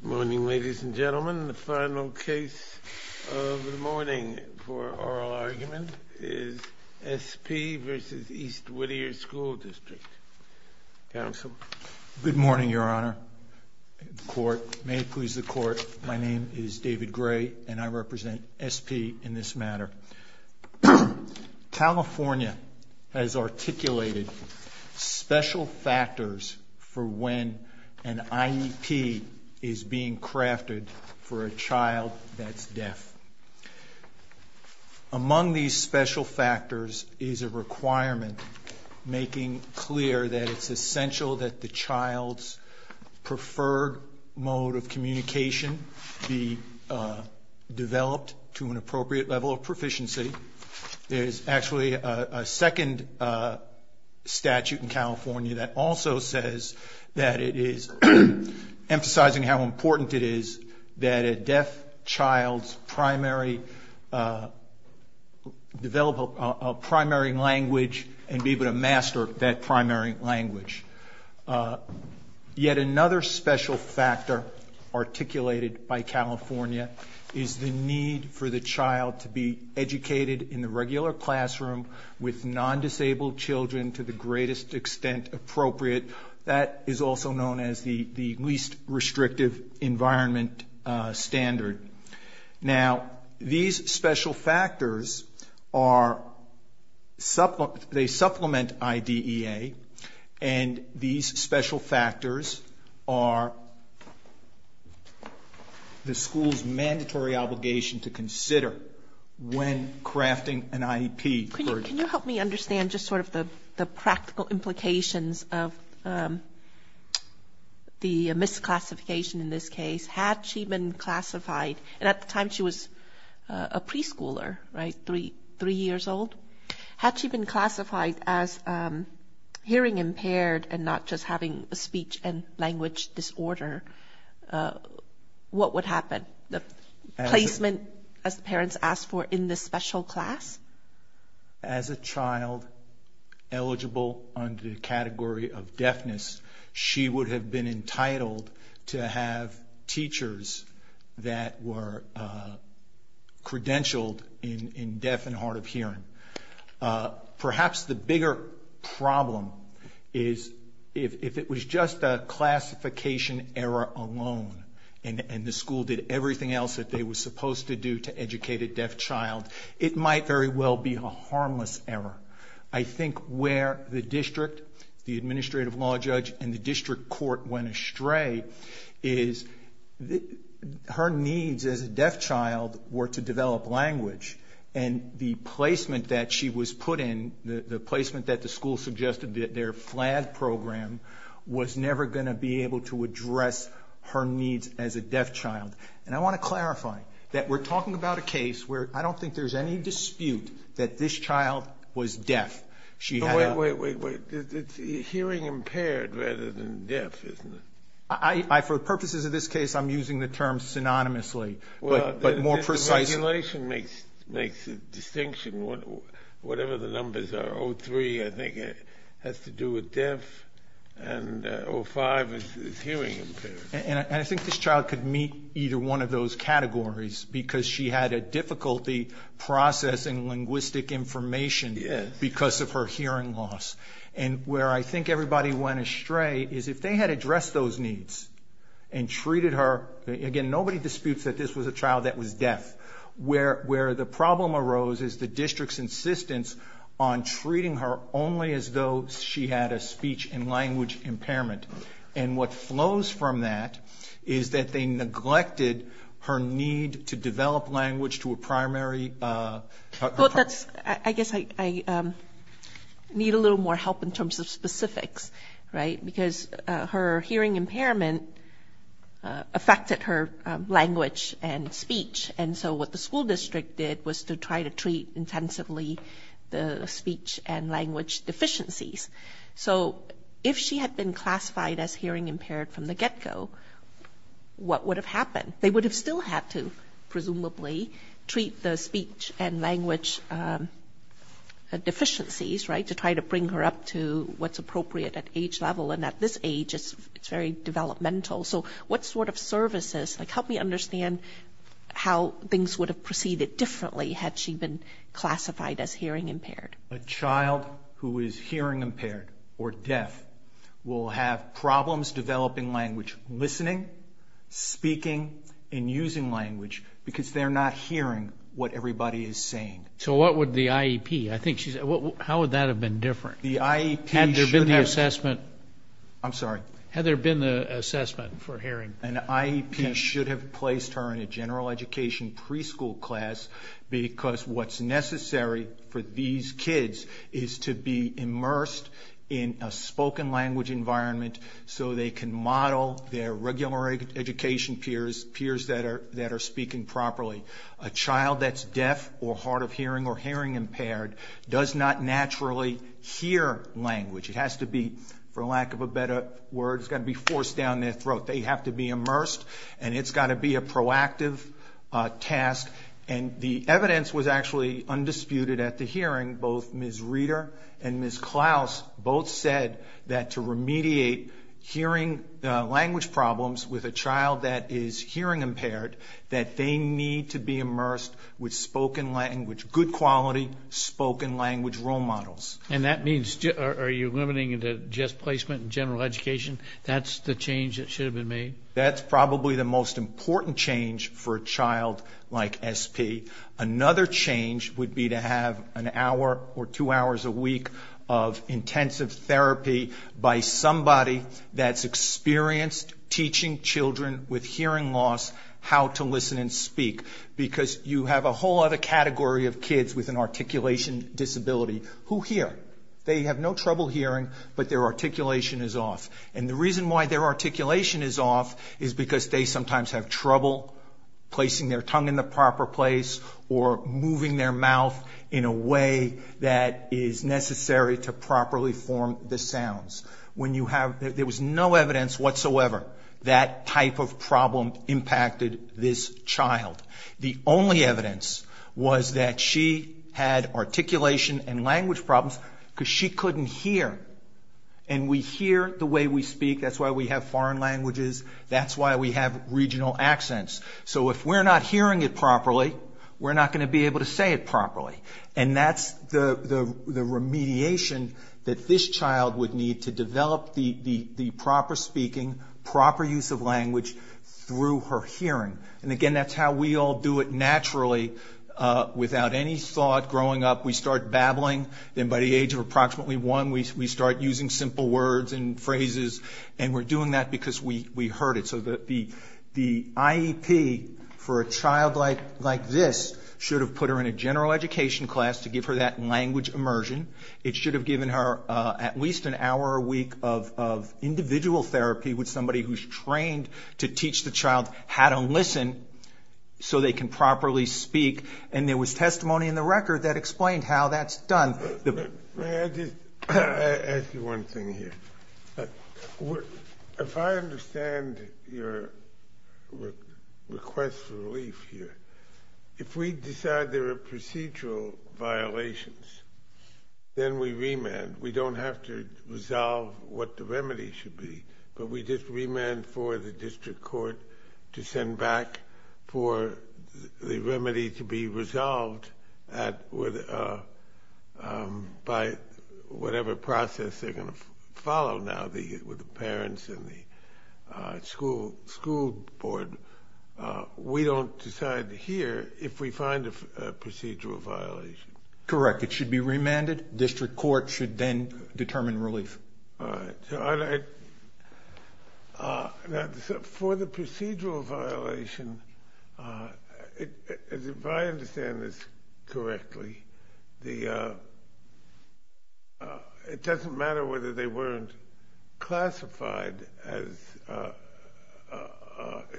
Good morning, ladies and gentlemen. The final case of the morning for oral argument is S. P. v. East Whittier School District. Counsel? Good morning, Your Honor. May it please the Court, my name is David Gray, and I represent S. P. in this matter. California has articulated special factors for when an IEP is being crafted for a child that's deaf. Among these special factors is a requirement making clear that it's essential that the child's preferred mode of communication be developed to an appropriate level of proficiency. There's actually a second statute in California that also says that it is emphasizing how important it is that a deaf child's primary, develop a primary language and be able to master that primary language. Yet another special factor articulated by California is the need for the child to be educated in the regular classroom with non-disabled children to the greatest extent appropriate. That is also known as the least restrictive environment standard. Now, these special factors, they supplement IDEA, and these special factors are the school's mandatory obligation to consider when crafting an IEP. Can you help me understand just sort of the practical implications of the misclassification in this case? Had she been classified, and at the time she was a preschooler, right, three years old, had she been classified as hearing impaired and not just having a speech and language disorder, what would happen? The placement, as the parents asked for, in this special class? As a child eligible under the category of deafness, she would have been entitled to have teachers that were credentialed in deaf and if it was just a classification error alone, and the school did everything else that they were supposed to do to educate a deaf child, it might very well be a harmless error. I think where the district, the administrative law judge, and the district court went astray is her needs as a program was never going to be able to address her needs as a deaf child. And I want to clarify that we're talking about a case where I don't think there's any dispute that this child was deaf. Wait, wait, wait. It's hearing impaired rather than deaf, isn't it? For the purposes of this case, I'm using the term synonymously, but more precisely. Regulation makes a distinction. Whatever the numbers are, 03 I think has to do with deaf and 05 is hearing impaired. And I think this child could meet either one of those categories because she had a difficulty processing linguistic information because of her hearing loss. And where I think everybody went astray is if they had addressed those needs and treated her, again, nobody disputes that this was a child that was deaf. Where the problem arose is the district's insistence on treating her only as though she had a speech and language impairment. And what flows from that is that they neglected her need to develop language to a primary... And so what the school district did was to try to treat intensively the speech and language deficiencies. So if she had been classified as hearing impaired from the get-go, what would have happened? They would have still had to presumably treat the speech and language deficiencies, right, to try to bring her up to what's appropriate at age level. And at this age, it's very developmental. So what sort of services, like, help me understand how things would have proceeded differently had she been classified as hearing impaired? A child who is hearing impaired or deaf will have problems developing language, listening, speaking, and using language because they're not hearing what everybody is saying. So what would the IEP, I think she said, how would that have been different? Had there been the assessment for hearing? An IEP should have placed her in a general education preschool class because what's necessary for these kids is to be immersed in a spoken language environment so they can model their regular education peers, peers that are speaking properly. A child that's deaf or hard of hearing or hearing language, it has to be, for lack of a better word, it's got to be forced down their throat. They have to be immersed and it's got to be a proactive task. And the evidence was actually undisputed at the hearing. Both Ms. Reeder and Ms. Klaus both said that to remediate hearing language problems with a child that is hearing impaired, that they need to be immersed with spoken language, good quality spoken language role models. And that means, are you limiting it to just placement in general education? That's the change that should have been made? That's probably the most important change for a child like SP. Another change would be to have an hour or two hours a week of intensive therapy by somebody that's experienced teaching children with hearing loss how to listen and speak because you have a whole other category of hearing. They have no trouble hearing, but their articulation is off. And the reason why their articulation is off is because they sometimes have trouble placing their tongue in the proper place or moving their mouth in a way that is necessary to properly form the sounds. When you have, there was no evidence whatsoever that type of problem impacted this child. The only evidence was that she had articulation and she couldn't hear. And we hear the way we speak, that's why we have foreign languages, that's why we have regional accents. So if we're not hearing it properly, we're not going to be able to say it properly. And that's the remediation that this child would need to develop the proper speaking, proper use of language through her hearing. And again, that's how we all do it naturally without any thought growing up. We start babbling, then by the age of approximately one we start using simple words and phrases and we're doing that because we heard it. So the IEP for a child like this should have put her in a general education class to give her that language immersion. It should have given her at least an hour a week of individual therapy with somebody who's trained to teach the child how to listen so they can properly speak. And there was testimony in the I'll just ask you one thing here. If I understand your request for relief here, if we decide there are procedural violations, then we remand. We don't have to be resolved by whatever process they're going to follow now with the parents and the school board. We don't decide here if we find a procedural violation. Correct. It should be remanded. District court should then determine relief. For the procedural violation, if I understand this correctly, it doesn't matter whether they weren't classified as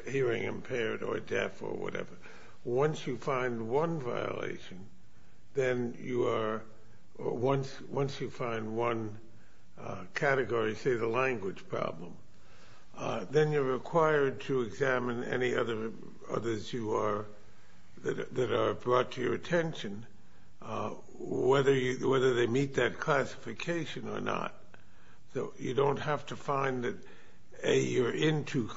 hearing impaired or deaf or whatever. Once you find one category, say the language problem, then you're required to examine any others that are brought to your attention, whether they meet that classification or not. So you don't have to find that you're into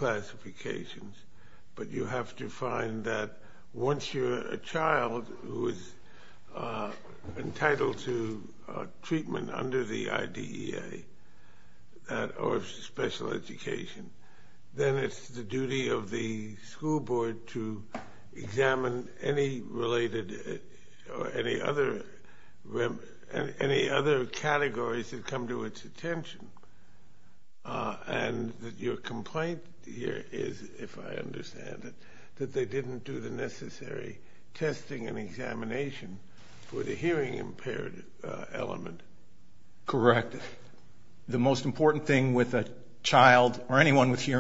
then it's the duty of the school board to examine any other categories that come to its attention. And your complaint here is, if I understand it, that they didn't do the necessary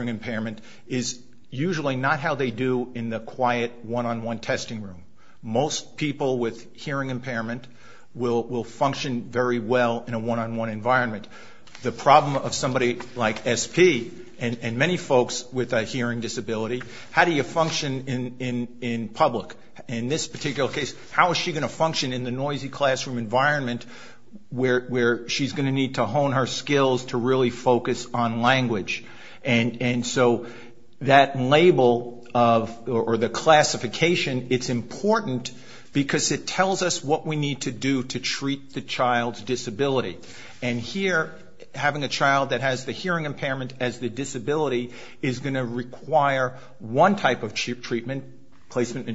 impairment is usually not how they do in the quiet one-on-one testing room. Most people with hearing impairment will function very well in a one-on-one environment. The problem of somebody like SP and many folks with a hearing disability, how do you function in public? In this particular case, how is she going to function in the noisy classroom environment where she's going to need to hone her skills to really focus on language? And so that label or the classification, it's important because it tells us what we need to do to treat the child's disability. And here, having a child that has the hearing impairment as the disability is going to require one type of treatment, placement in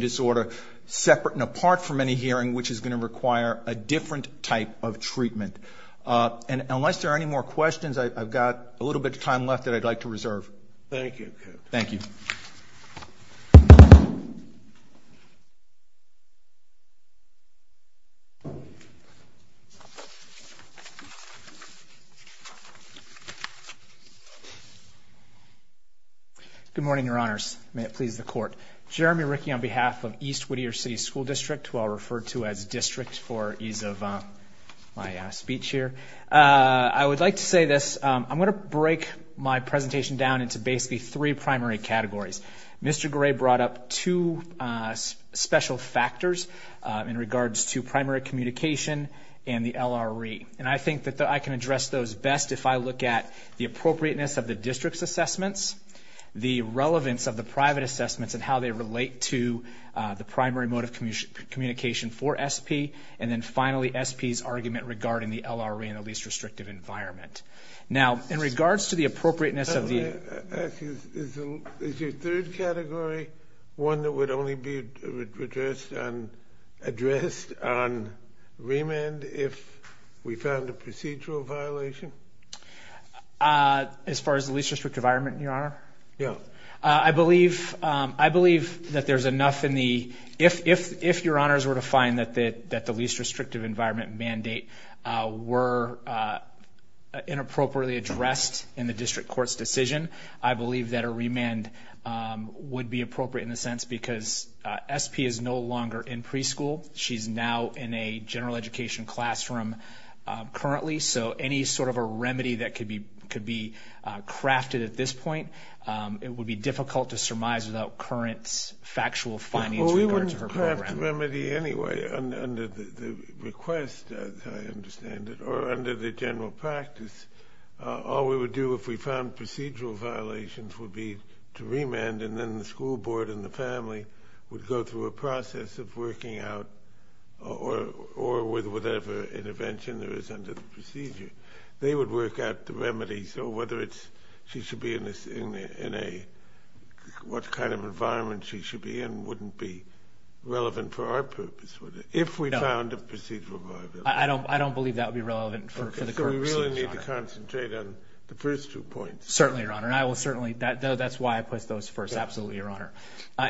disorder separate and apart from any hearing, which is going to require a different type of treatment. And unless there are any more questions, I've got a little bit of time left that I'd like to reserve. Thank you. Thank you. Good morning, Your Honors. May it please the Court. Jeremy Rickey on behalf of East Whittier City School District, who I'll refer to as district for ease of my speech here. I would like to say this. I'm going to break my presentation down into basically three primary categories. Mr. Gray brought up two special factors in regards to primary communication and the LRE. And I think that I can address those best if I look at the appropriateness of the district's assessments, the relevance of the private environment. Now, in regards to the appropriateness of the... Is your third category one that would only be addressed on remand if we found a procedural violation? As far as the least restrictive environment, Your Honor? Yeah. I believe that there's enough in the... If Your Honors were to find that the least restrictive environment mandate were inappropriately addressed in the district court's decision, I believe that a remand would be appropriate in the sense because SP is no longer in any sort of a remedy that could be crafted at this point. It would be difficult to surmise without current factual findings in regards to her program. Well, we wouldn't craft a remedy anyway under the request, as I understand it, or under the general practice. All we would do if we found procedural violations would be to remand and then the school board and the family would go through a process of working out or with whatever intervention there is under the procedure. They would work out the remedy. So whether she should be in a... What kind of environment she should be in wouldn't be relevant for our purpose. If we found a procedural violation. I don't believe that would be relevant for the court proceedings, Your Honor. Let me concentrate on the first two points. Certainly, Your Honor. That's why I put those first. Absolutely, Your Honor.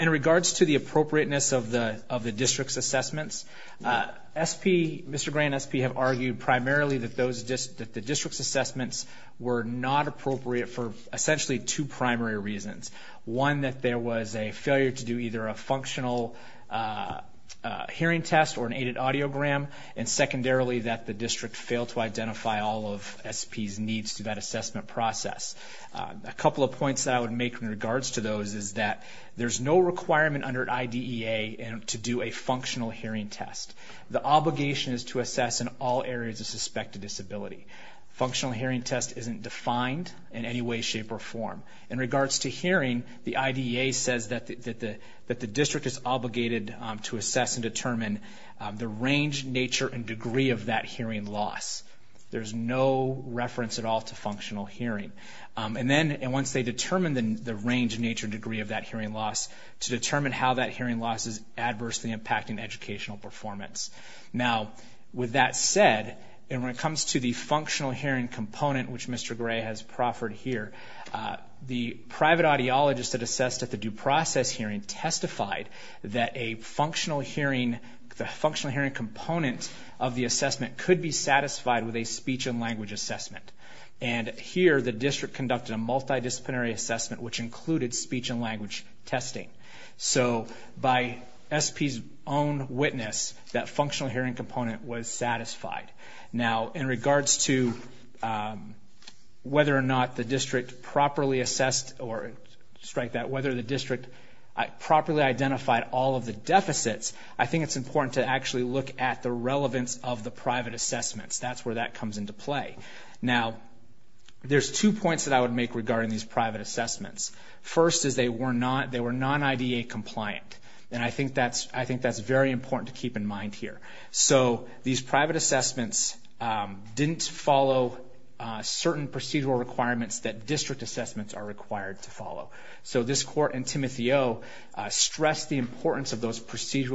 In regards to the appropriateness of the district's assessments, Mr. Gray and SP have argued primarily that the district's assessments were not appropriate for essentially two primary reasons. One, that there was a failure to do either a functional hearing test or an aided audiogram. And secondarily, that the district failed to identify all of SP's needs to that assessment process. A couple of points that I would make in regards to those is that there's no requirement under IDEA to do a functional hearing test. The obligation is to assess in all areas of suspected disability. Functional hearing test isn't defined in any way, shape, or form. In regards to hearing, the IDEA says that the district is obligated to assess and determine the range, nature, and degree of that hearing loss. There's no reference at all to functional hearing. And once they determine the range, nature, and degree of that hearing loss, to determine how that hearing loss is adversely impacting educational performance. Now, with that said, when it comes to the functional hearing component, which Mr. Gray has proffered here, the private audiologist that assessed at the due process hearing testified that a functional hearing component of the assessment could be satisfied with a speech and language assessment. And here, the district conducted a functional hearing component was satisfied. Now, in regards to whether or not the district properly assessed, or strike that, whether the district properly identified all of the deficits, I think it's important to actually look at the relevance of the private assessments. That's where that comes into play. Now, there's two points that I would make regarding these private assessments. First, is they were non-IDEA compliant. And I think that's very important to keep in mind here. So, these private assessments didn't follow certain procedural requirements that district assessments are required to follow. So, this court and Timotheo stressed the importance of those procedural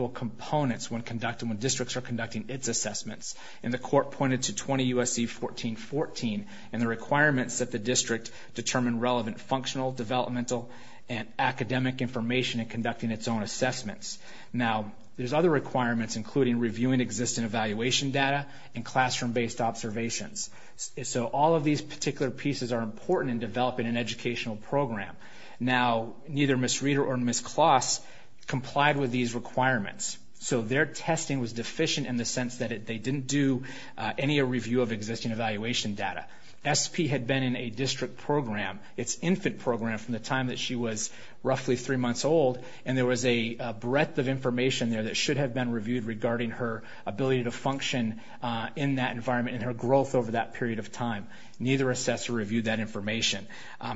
developmental and academic information in conducting its own assessments. Now, there's other requirements, including reviewing existing evaluation data and classroom-based observations. So, all of these particular pieces are important in developing an educational program. Now, neither Ms. Reeder or Ms. Kloss complied with these assessments,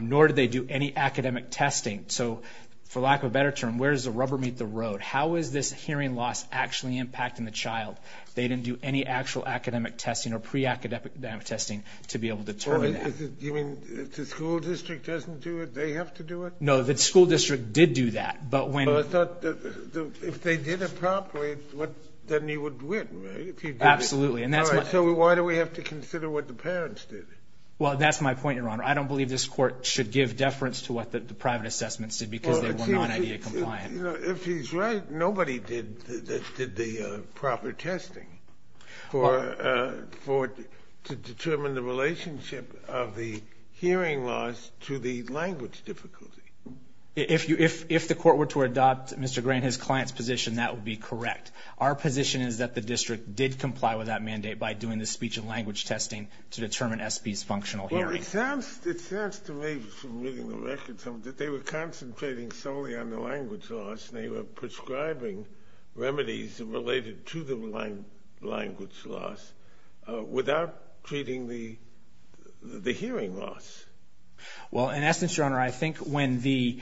nor did they do any academic testing. So, for lack of a better term, where does the rubber meet the road? How is this hearing loss actually impacting the school district? Does the school district have to do it? No, the school district did do that. But if they did it properly, then you would win, right? Absolutely. So, why do we have to consider what the parents did? Well, that's my point, Your Honor. I don't believe this court should give deference to what the private assessments did because they were language difficulty. If the court were to adopt Mr. Gray and his client's position, that would be correct. Our position is that the district did comply with that mandate by doing the speech and language testing to determine SP's functional hearing. Well, it sounds to me, from reading the records, that they were concentrating solely on the language loss and they were prescribing remedies related to the language loss without treating the hearing loss. Well, in essence, Your Honor, I think when the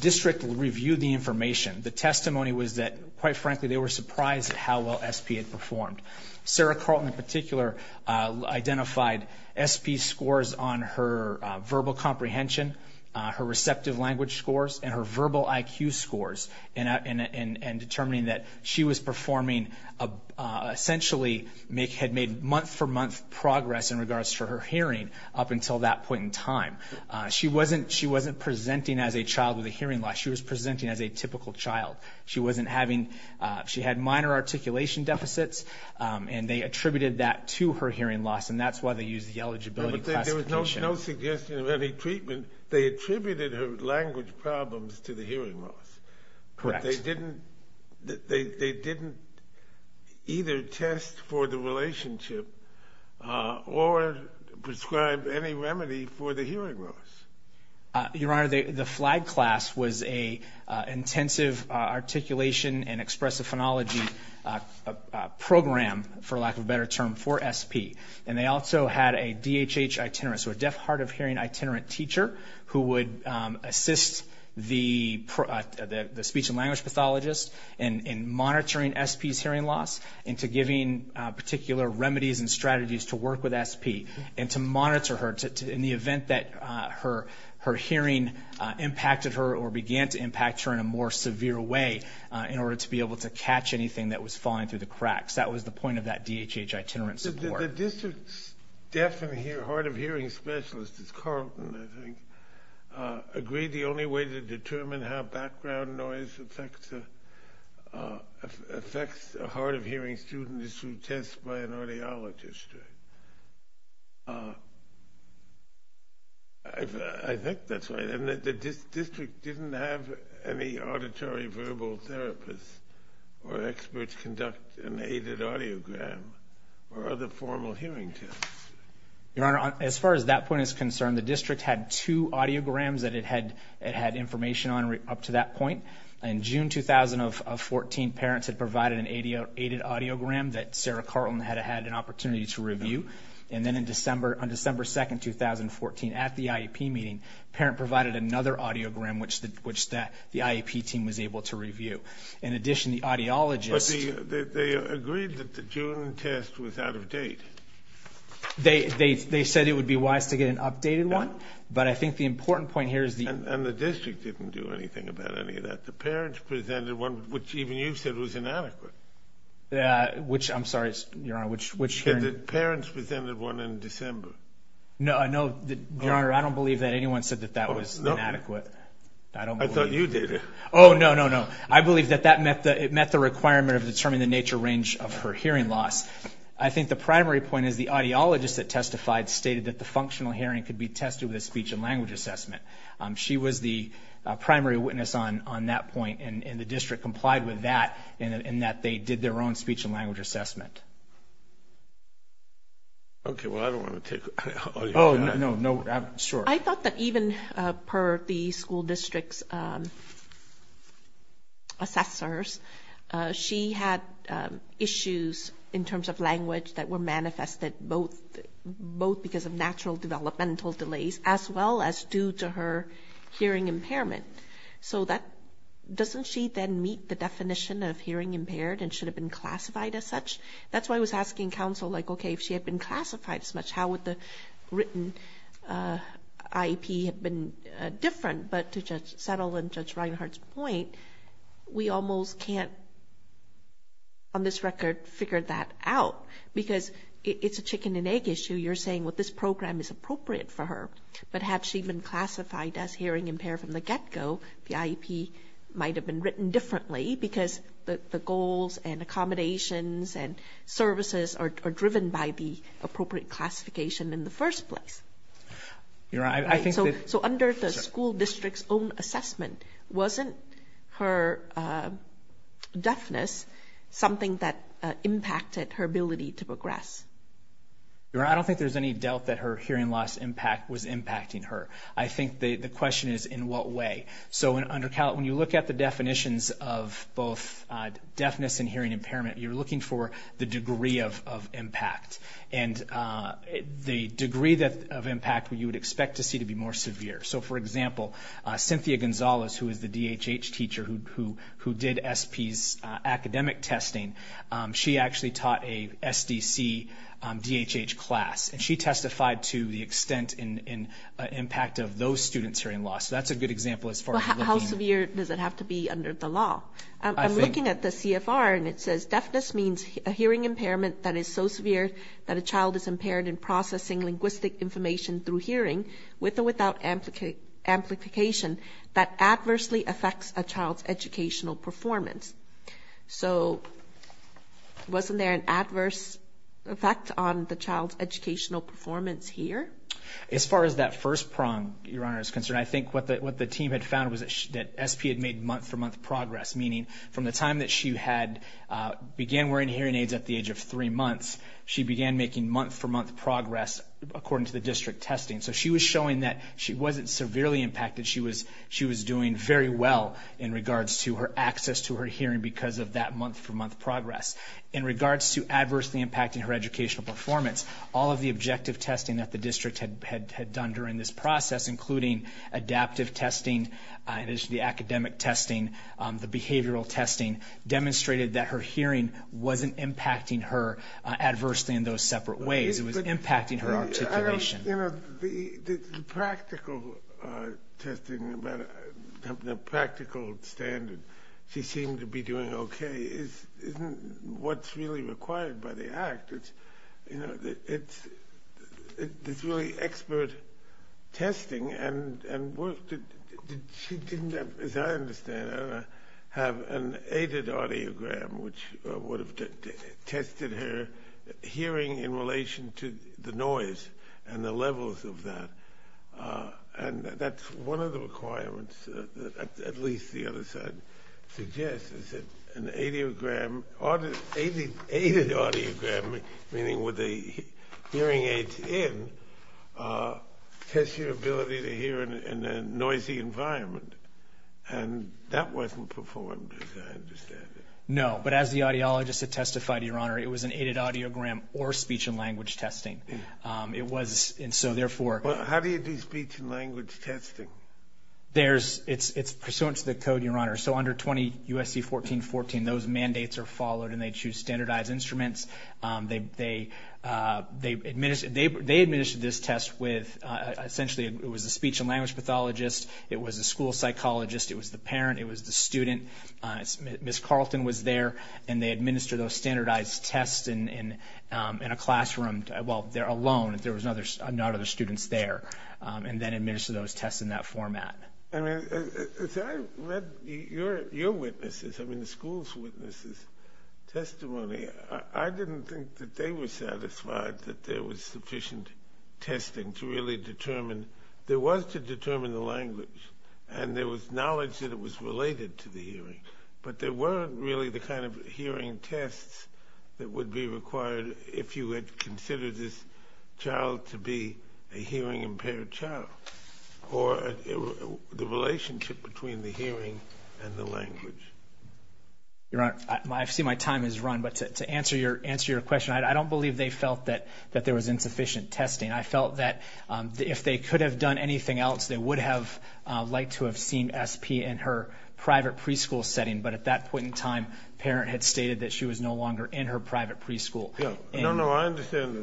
district reviewed the information, the testimony was that, quite frankly, they were surprised at how well SP had performed. Sarah Carlton, in particular, identified SP's scores on her verbal scores and determined that she was performing, essentially, had made month-for-month progress in regards to her hearing up until that point in time. She wasn't presenting as a child with a hearing loss. She was presenting as a typical child. She had minor articulation deficits, and they attributed that to her hearing loss, and that's why they used the eligibility classification. There was no suggestion of any treatment. They attributed her language problems to the hearing loss. Correct. They didn't either test for the relationship or prescribe any remedy for the hearing loss. Your Honor, the FLAG class was an intensive articulation and expressive phonology program, for lack of a better term, for SP, and they also had a DHH itinerant, so a deaf-hard-of-hearing itinerant teacher who would assist the speech and language pathologist in monitoring SP's hearing loss into giving particular remedies and strategies to work with SP and to monitor her in the event that her hearing impacted her or began to impact her in a more severe way in order to be able to catch anything that was falling through the cracks. That was the point of that DHH itinerant support. The district's deaf and hard-of-hearing specialist, Carlton, I think, agreed the only way to determine how background noise affects a hard-of-hearing student is through tests by an audiologist. I think that's right, and the district didn't have any auditory-verbal therapists or experts conduct an aided audiogram or other formal hearing tests. Your Honor, as far as that point is concerned, the district had two audiograms that it had information on up to that point. In June 2014, parents had provided an aided audiogram that Sarah Carlton had had an opportunity to review, and then on December 2, 2014, at the IEP meeting, parent provided another audiogram which the IEP team was able to review. In addition, the audiologist... But they agreed that the June test was out of date. They said it would be wise to get an updated one, but I think the important point here is... And the district didn't do anything about any of that. The parents presented one which even you said was inadequate. I'm sorry, Your Honor, which hearing... The parents presented one in December. No, Your Honor, I don't believe that anyone said that that was inadequate. I thought you did. Oh, no, no, no. I believe that it met the requirement of determining the nature range of her hearing loss. I think the primary point is the audiologist that testified stated that the functional hearing could be tested with a speech and language assessment. She was the primary witness on that point, and the district complied with that in that they did their own speech and language assessment. Okay, well, I don't want to take... Oh, no, no, sure. I thought that even per the school district's assessors, she had issues in terms of language that were manifested, both because of natural developmental delays as well as due to her hearing impairment. So doesn't she then meet the definition of hearing impaired and should have been classified as such? That's why I was asking counsel, like, okay, if she had been classified as much, how would the written IEP have been different? But to settle on Judge Reinhart's point, we almost can't, on this record, figure that out because it's a chicken and egg issue. You're saying, well, this program is appropriate for her, but had she been classified as hearing impaired from the get-go, the IEP might have been written differently because the goals and accommodations and services are driven by the appropriate classification in the first place. You're right. I think that... Wasn't her deafness something that impacted her ability to progress? Your Honor, I don't think there's any doubt that her hearing loss impact was impacting her. I think the question is in what way. So when you look at the definitions of both deafness and hearing impairment, you're looking for the degree of impact, and the degree of impact you would expect to see to be more severe. So, for example, Cynthia Gonzalez, who is the DHH teacher who did SP's academic testing, she actually taught a SDC DHH class, and she testified to the extent and impact of those students' hearing loss. So that's a good example as far as looking... How severe does it have to be under the law? I'm looking at the CFR, and it says deafness means a hearing impairment that is so severe that a child is impaired in processing linguistic information through hearing with or without amplification that adversely affects a child's educational performance. So wasn't there an adverse effect on the child's educational performance here? As far as that first prong, Your Honor, is concerned, I think what the team had found was that SP had made month-for-month progress, meaning from the time that she began wearing hearing aids at the age of 3 months, she began making month-for-month progress according to the district testing. So she was showing that she wasn't severely impacted. She was doing very well in regards to her access to her hearing because of that month-for-month progress. In regards to adversely impacting her educational performance, all of the objective testing that the district had done during this process, including adaptive testing, the academic testing, the behavioral testing, demonstrated that her hearing wasn't impacting her adversely in those separate ways. It was impacting her articulation. The practical testing, the practical standard, she seemed to be doing okay, isn't what's really required by the Act. It's really expert testing. And she didn't, as I understand it, have an aided audiogram, which would have tested her hearing in relation to the noise and the levels of that. And that's one of the requirements that at least the other side suggests, is that an aided audiogram, meaning with the hearing aids in, tests your ability to hear in a noisy environment. And that wasn't performed, as I understand it. No, but as the audiologist had testified, Your Honor, it was an aided audiogram or speech and language testing. How do you do speech and language testing? It's pursuant to the code, Your Honor. So under 20 U.S.C. 1414, those mandates are followed, and they choose standardized instruments. They administered this test with essentially it was a speech and language pathologist. It was a school psychologist. It was the parent. It was the student. Ms. Carlton was there. And they administered those standardized tests in a classroom alone. There were no other students there. And then administered those tests in that format. I mean, as I read your witnesses, I mean the school's witnesses' testimony, I didn't think that they were satisfied that there was sufficient testing to really determine. There was to determine the language. And there was knowledge that it was related to the hearing. But there weren't really the kind of hearing tests that would be required if you had considered this child to be a hearing-impaired child. Or the relationship between the hearing and the language. Your Honor, I see my time has run. But to answer your question, I don't believe they felt that there was insufficient testing. I felt that if they could have done anything else, they would have liked to have seen SP in her private preschool setting. But at that point in time, the parent had stated that she was no longer in her private preschool. No, no, I understand.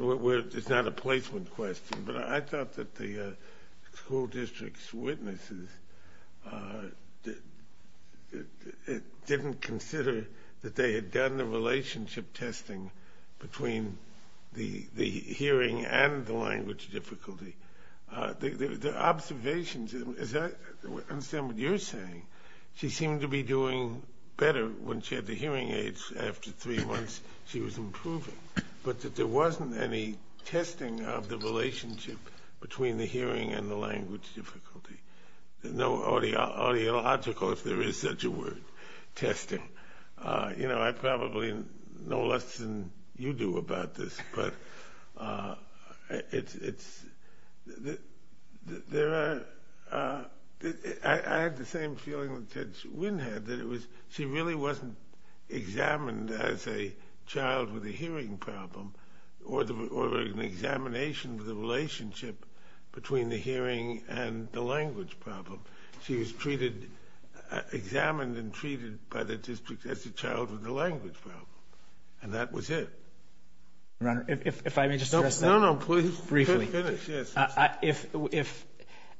It's not a placement question. But I thought that the school district's witnesses didn't consider that they had done the relationship testing between the hearing and the language difficulty. The observations, I understand what you're saying. She seemed to be doing better when she had the hearing aids. After three months, she was improving. But that there wasn't any testing of the relationship between the hearing and the language difficulty. No audiological, if there is such a word, testing. You know, I probably know less than you do about this. But I had the same feeling that Ted Winn had, that she really wasn't examined as a child with a hearing problem or an examination of the relationship between the hearing and the language problem. She was treated, examined and treated by the district as a child with a language problem. And that was it. Your Honor, if I may just address that. No, no, please. Briefly. Finish, yes.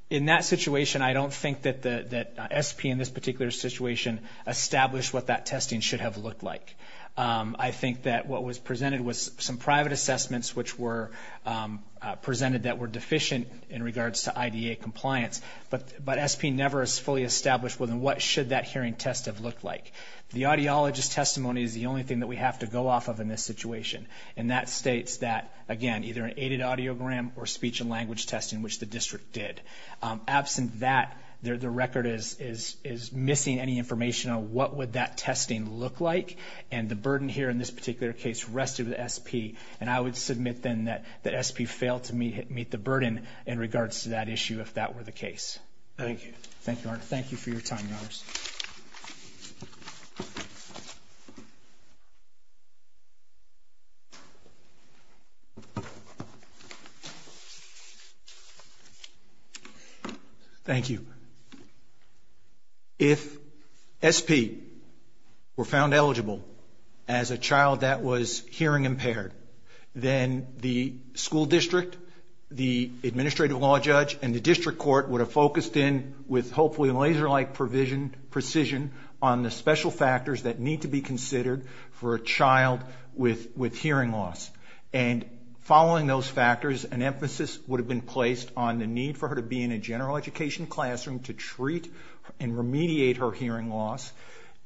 In that situation, I don't think that SP in this particular situation established what that testing should have looked like. I think that what was presented was some private assessments which were presented that were deficient in regards to IDA compliance. But SP never fully established what should that hearing test have looked like. The audiologist testimony is the only thing that we have to go off of in this situation. And that states that, again, either an aided audiogram or speech and language testing, which the district did. Absent that, the record is missing any information on what would that testing look like. And the burden here in this particular case rested with SP. And I would submit then that SP failed to meet the burden in regards to that issue if that were the case. Thank you. Thank you, Your Honor. Thank you for your time, Your Honor. Thank you. If SP were found eligible as a child that was hearing impaired, then the school district, the administrative law judge, and the district court would have focused in, with hopefully laser-like precision, on the special factors that need to be considered for a child with hearing loss. And following those factors, an emphasis would have been placed on the need for her to be in a general education classroom to treat and remediate her hearing loss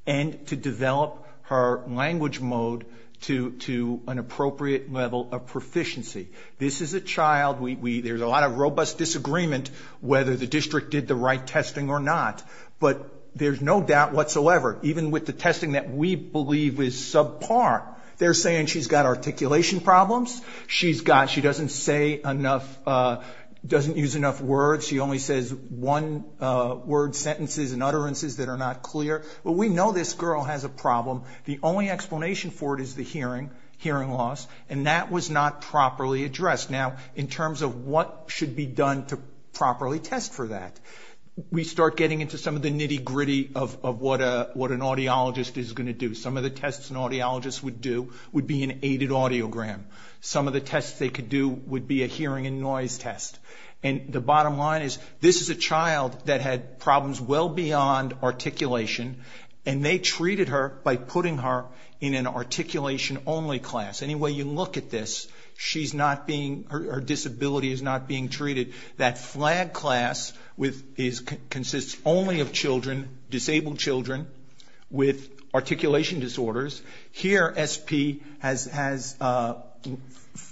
and to develop her language mode to an appropriate level of proficiency. This is a child. There's a lot of robust disagreement whether the district did the right testing or not. But there's no doubt whatsoever, even with the testing that we believe is subpar, they're saying she's got articulation problems. She doesn't use enough words. She only says one-word sentences and utterances that are not clear. But we know this girl has a problem. The only explanation for it is the hearing, hearing loss, and that was not properly addressed. Now, in terms of what should be done to properly test for that, we start getting into some of the nitty-gritty of what an audiologist is going to do. Some of the tests an audiologist would do would be an aided audiogram. Some of the tests they could do would be a hearing and noise test. And the bottom line is this is a child that had problems well beyond articulation, and they treated her by putting her in an articulation-only class. Any way you look at this, her disability is not being treated. That flag class consists only of children, disabled children, with articulation disorders. Here, SP has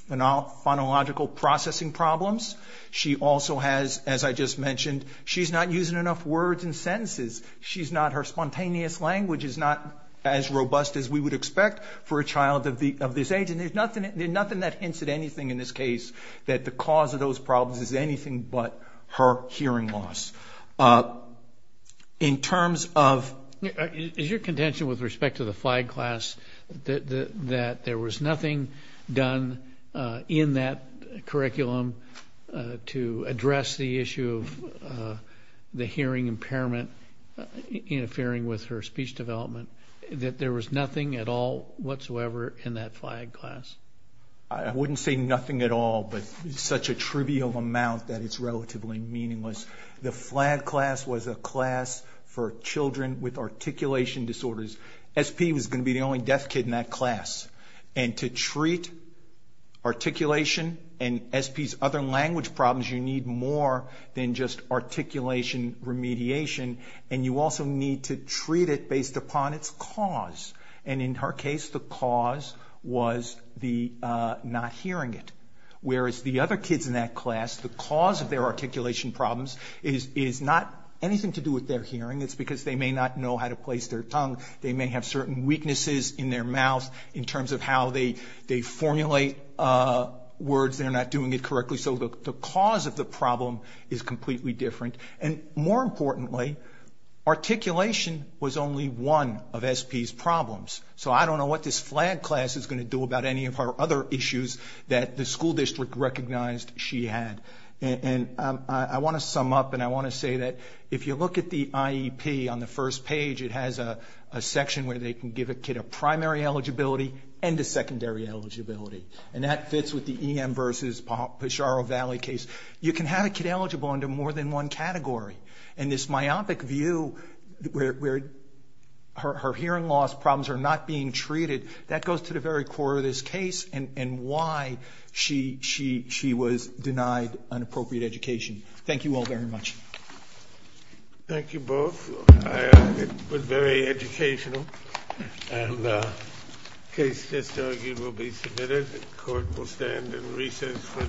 phonological processing problems. She also has, as I just mentioned, she's not using enough words and sentences. She's not, her spontaneous language is not as robust as we would expect for a child of this age. And there's nothing that hints at anything in this case that the cause of those problems is anything but her hearing loss. In terms of- Is your contention with respect to the flag class that there was nothing done in that curriculum to address the issue of the hearing impairment interfering with her speech development, that there was nothing at all whatsoever in that flag class? I wouldn't say nothing at all, but such a trivial amount that it's relatively meaningless. The flag class was a class for children with articulation disorders. SP was going to be the only deaf kid in that class. And to treat articulation and SP's other language problems, you need more than just articulation remediation. And you also need to treat it based upon its cause. And in her case, the cause was not hearing it. Whereas the other kids in that class, the cause of their articulation problems is not anything to do with their hearing. It's because they may not know how to place their tongue. They may have certain weaknesses in their mouth in terms of how they formulate words. They're not doing it correctly. So the cause of the problem is completely different. And more importantly, articulation was only one of SP's problems. So I don't know what this flag class is going to do about any of her other issues that the school district recognized she had. And I want to sum up and I want to say that if you look at the IEP on the first page, it has a section where they can give a kid a primary eligibility and a secondary eligibility. And that fits with the EM versus Pajaro Valley case. You can have a kid eligible under more than one category. And this myopic view where her hearing loss problems are not being treated, that goes to the very core of this case and why she was denied an appropriate education. Thank you all very much. Thank you both. It was very educational. And the case disargued will be submitted. The court will stand in recess for the day. All rise.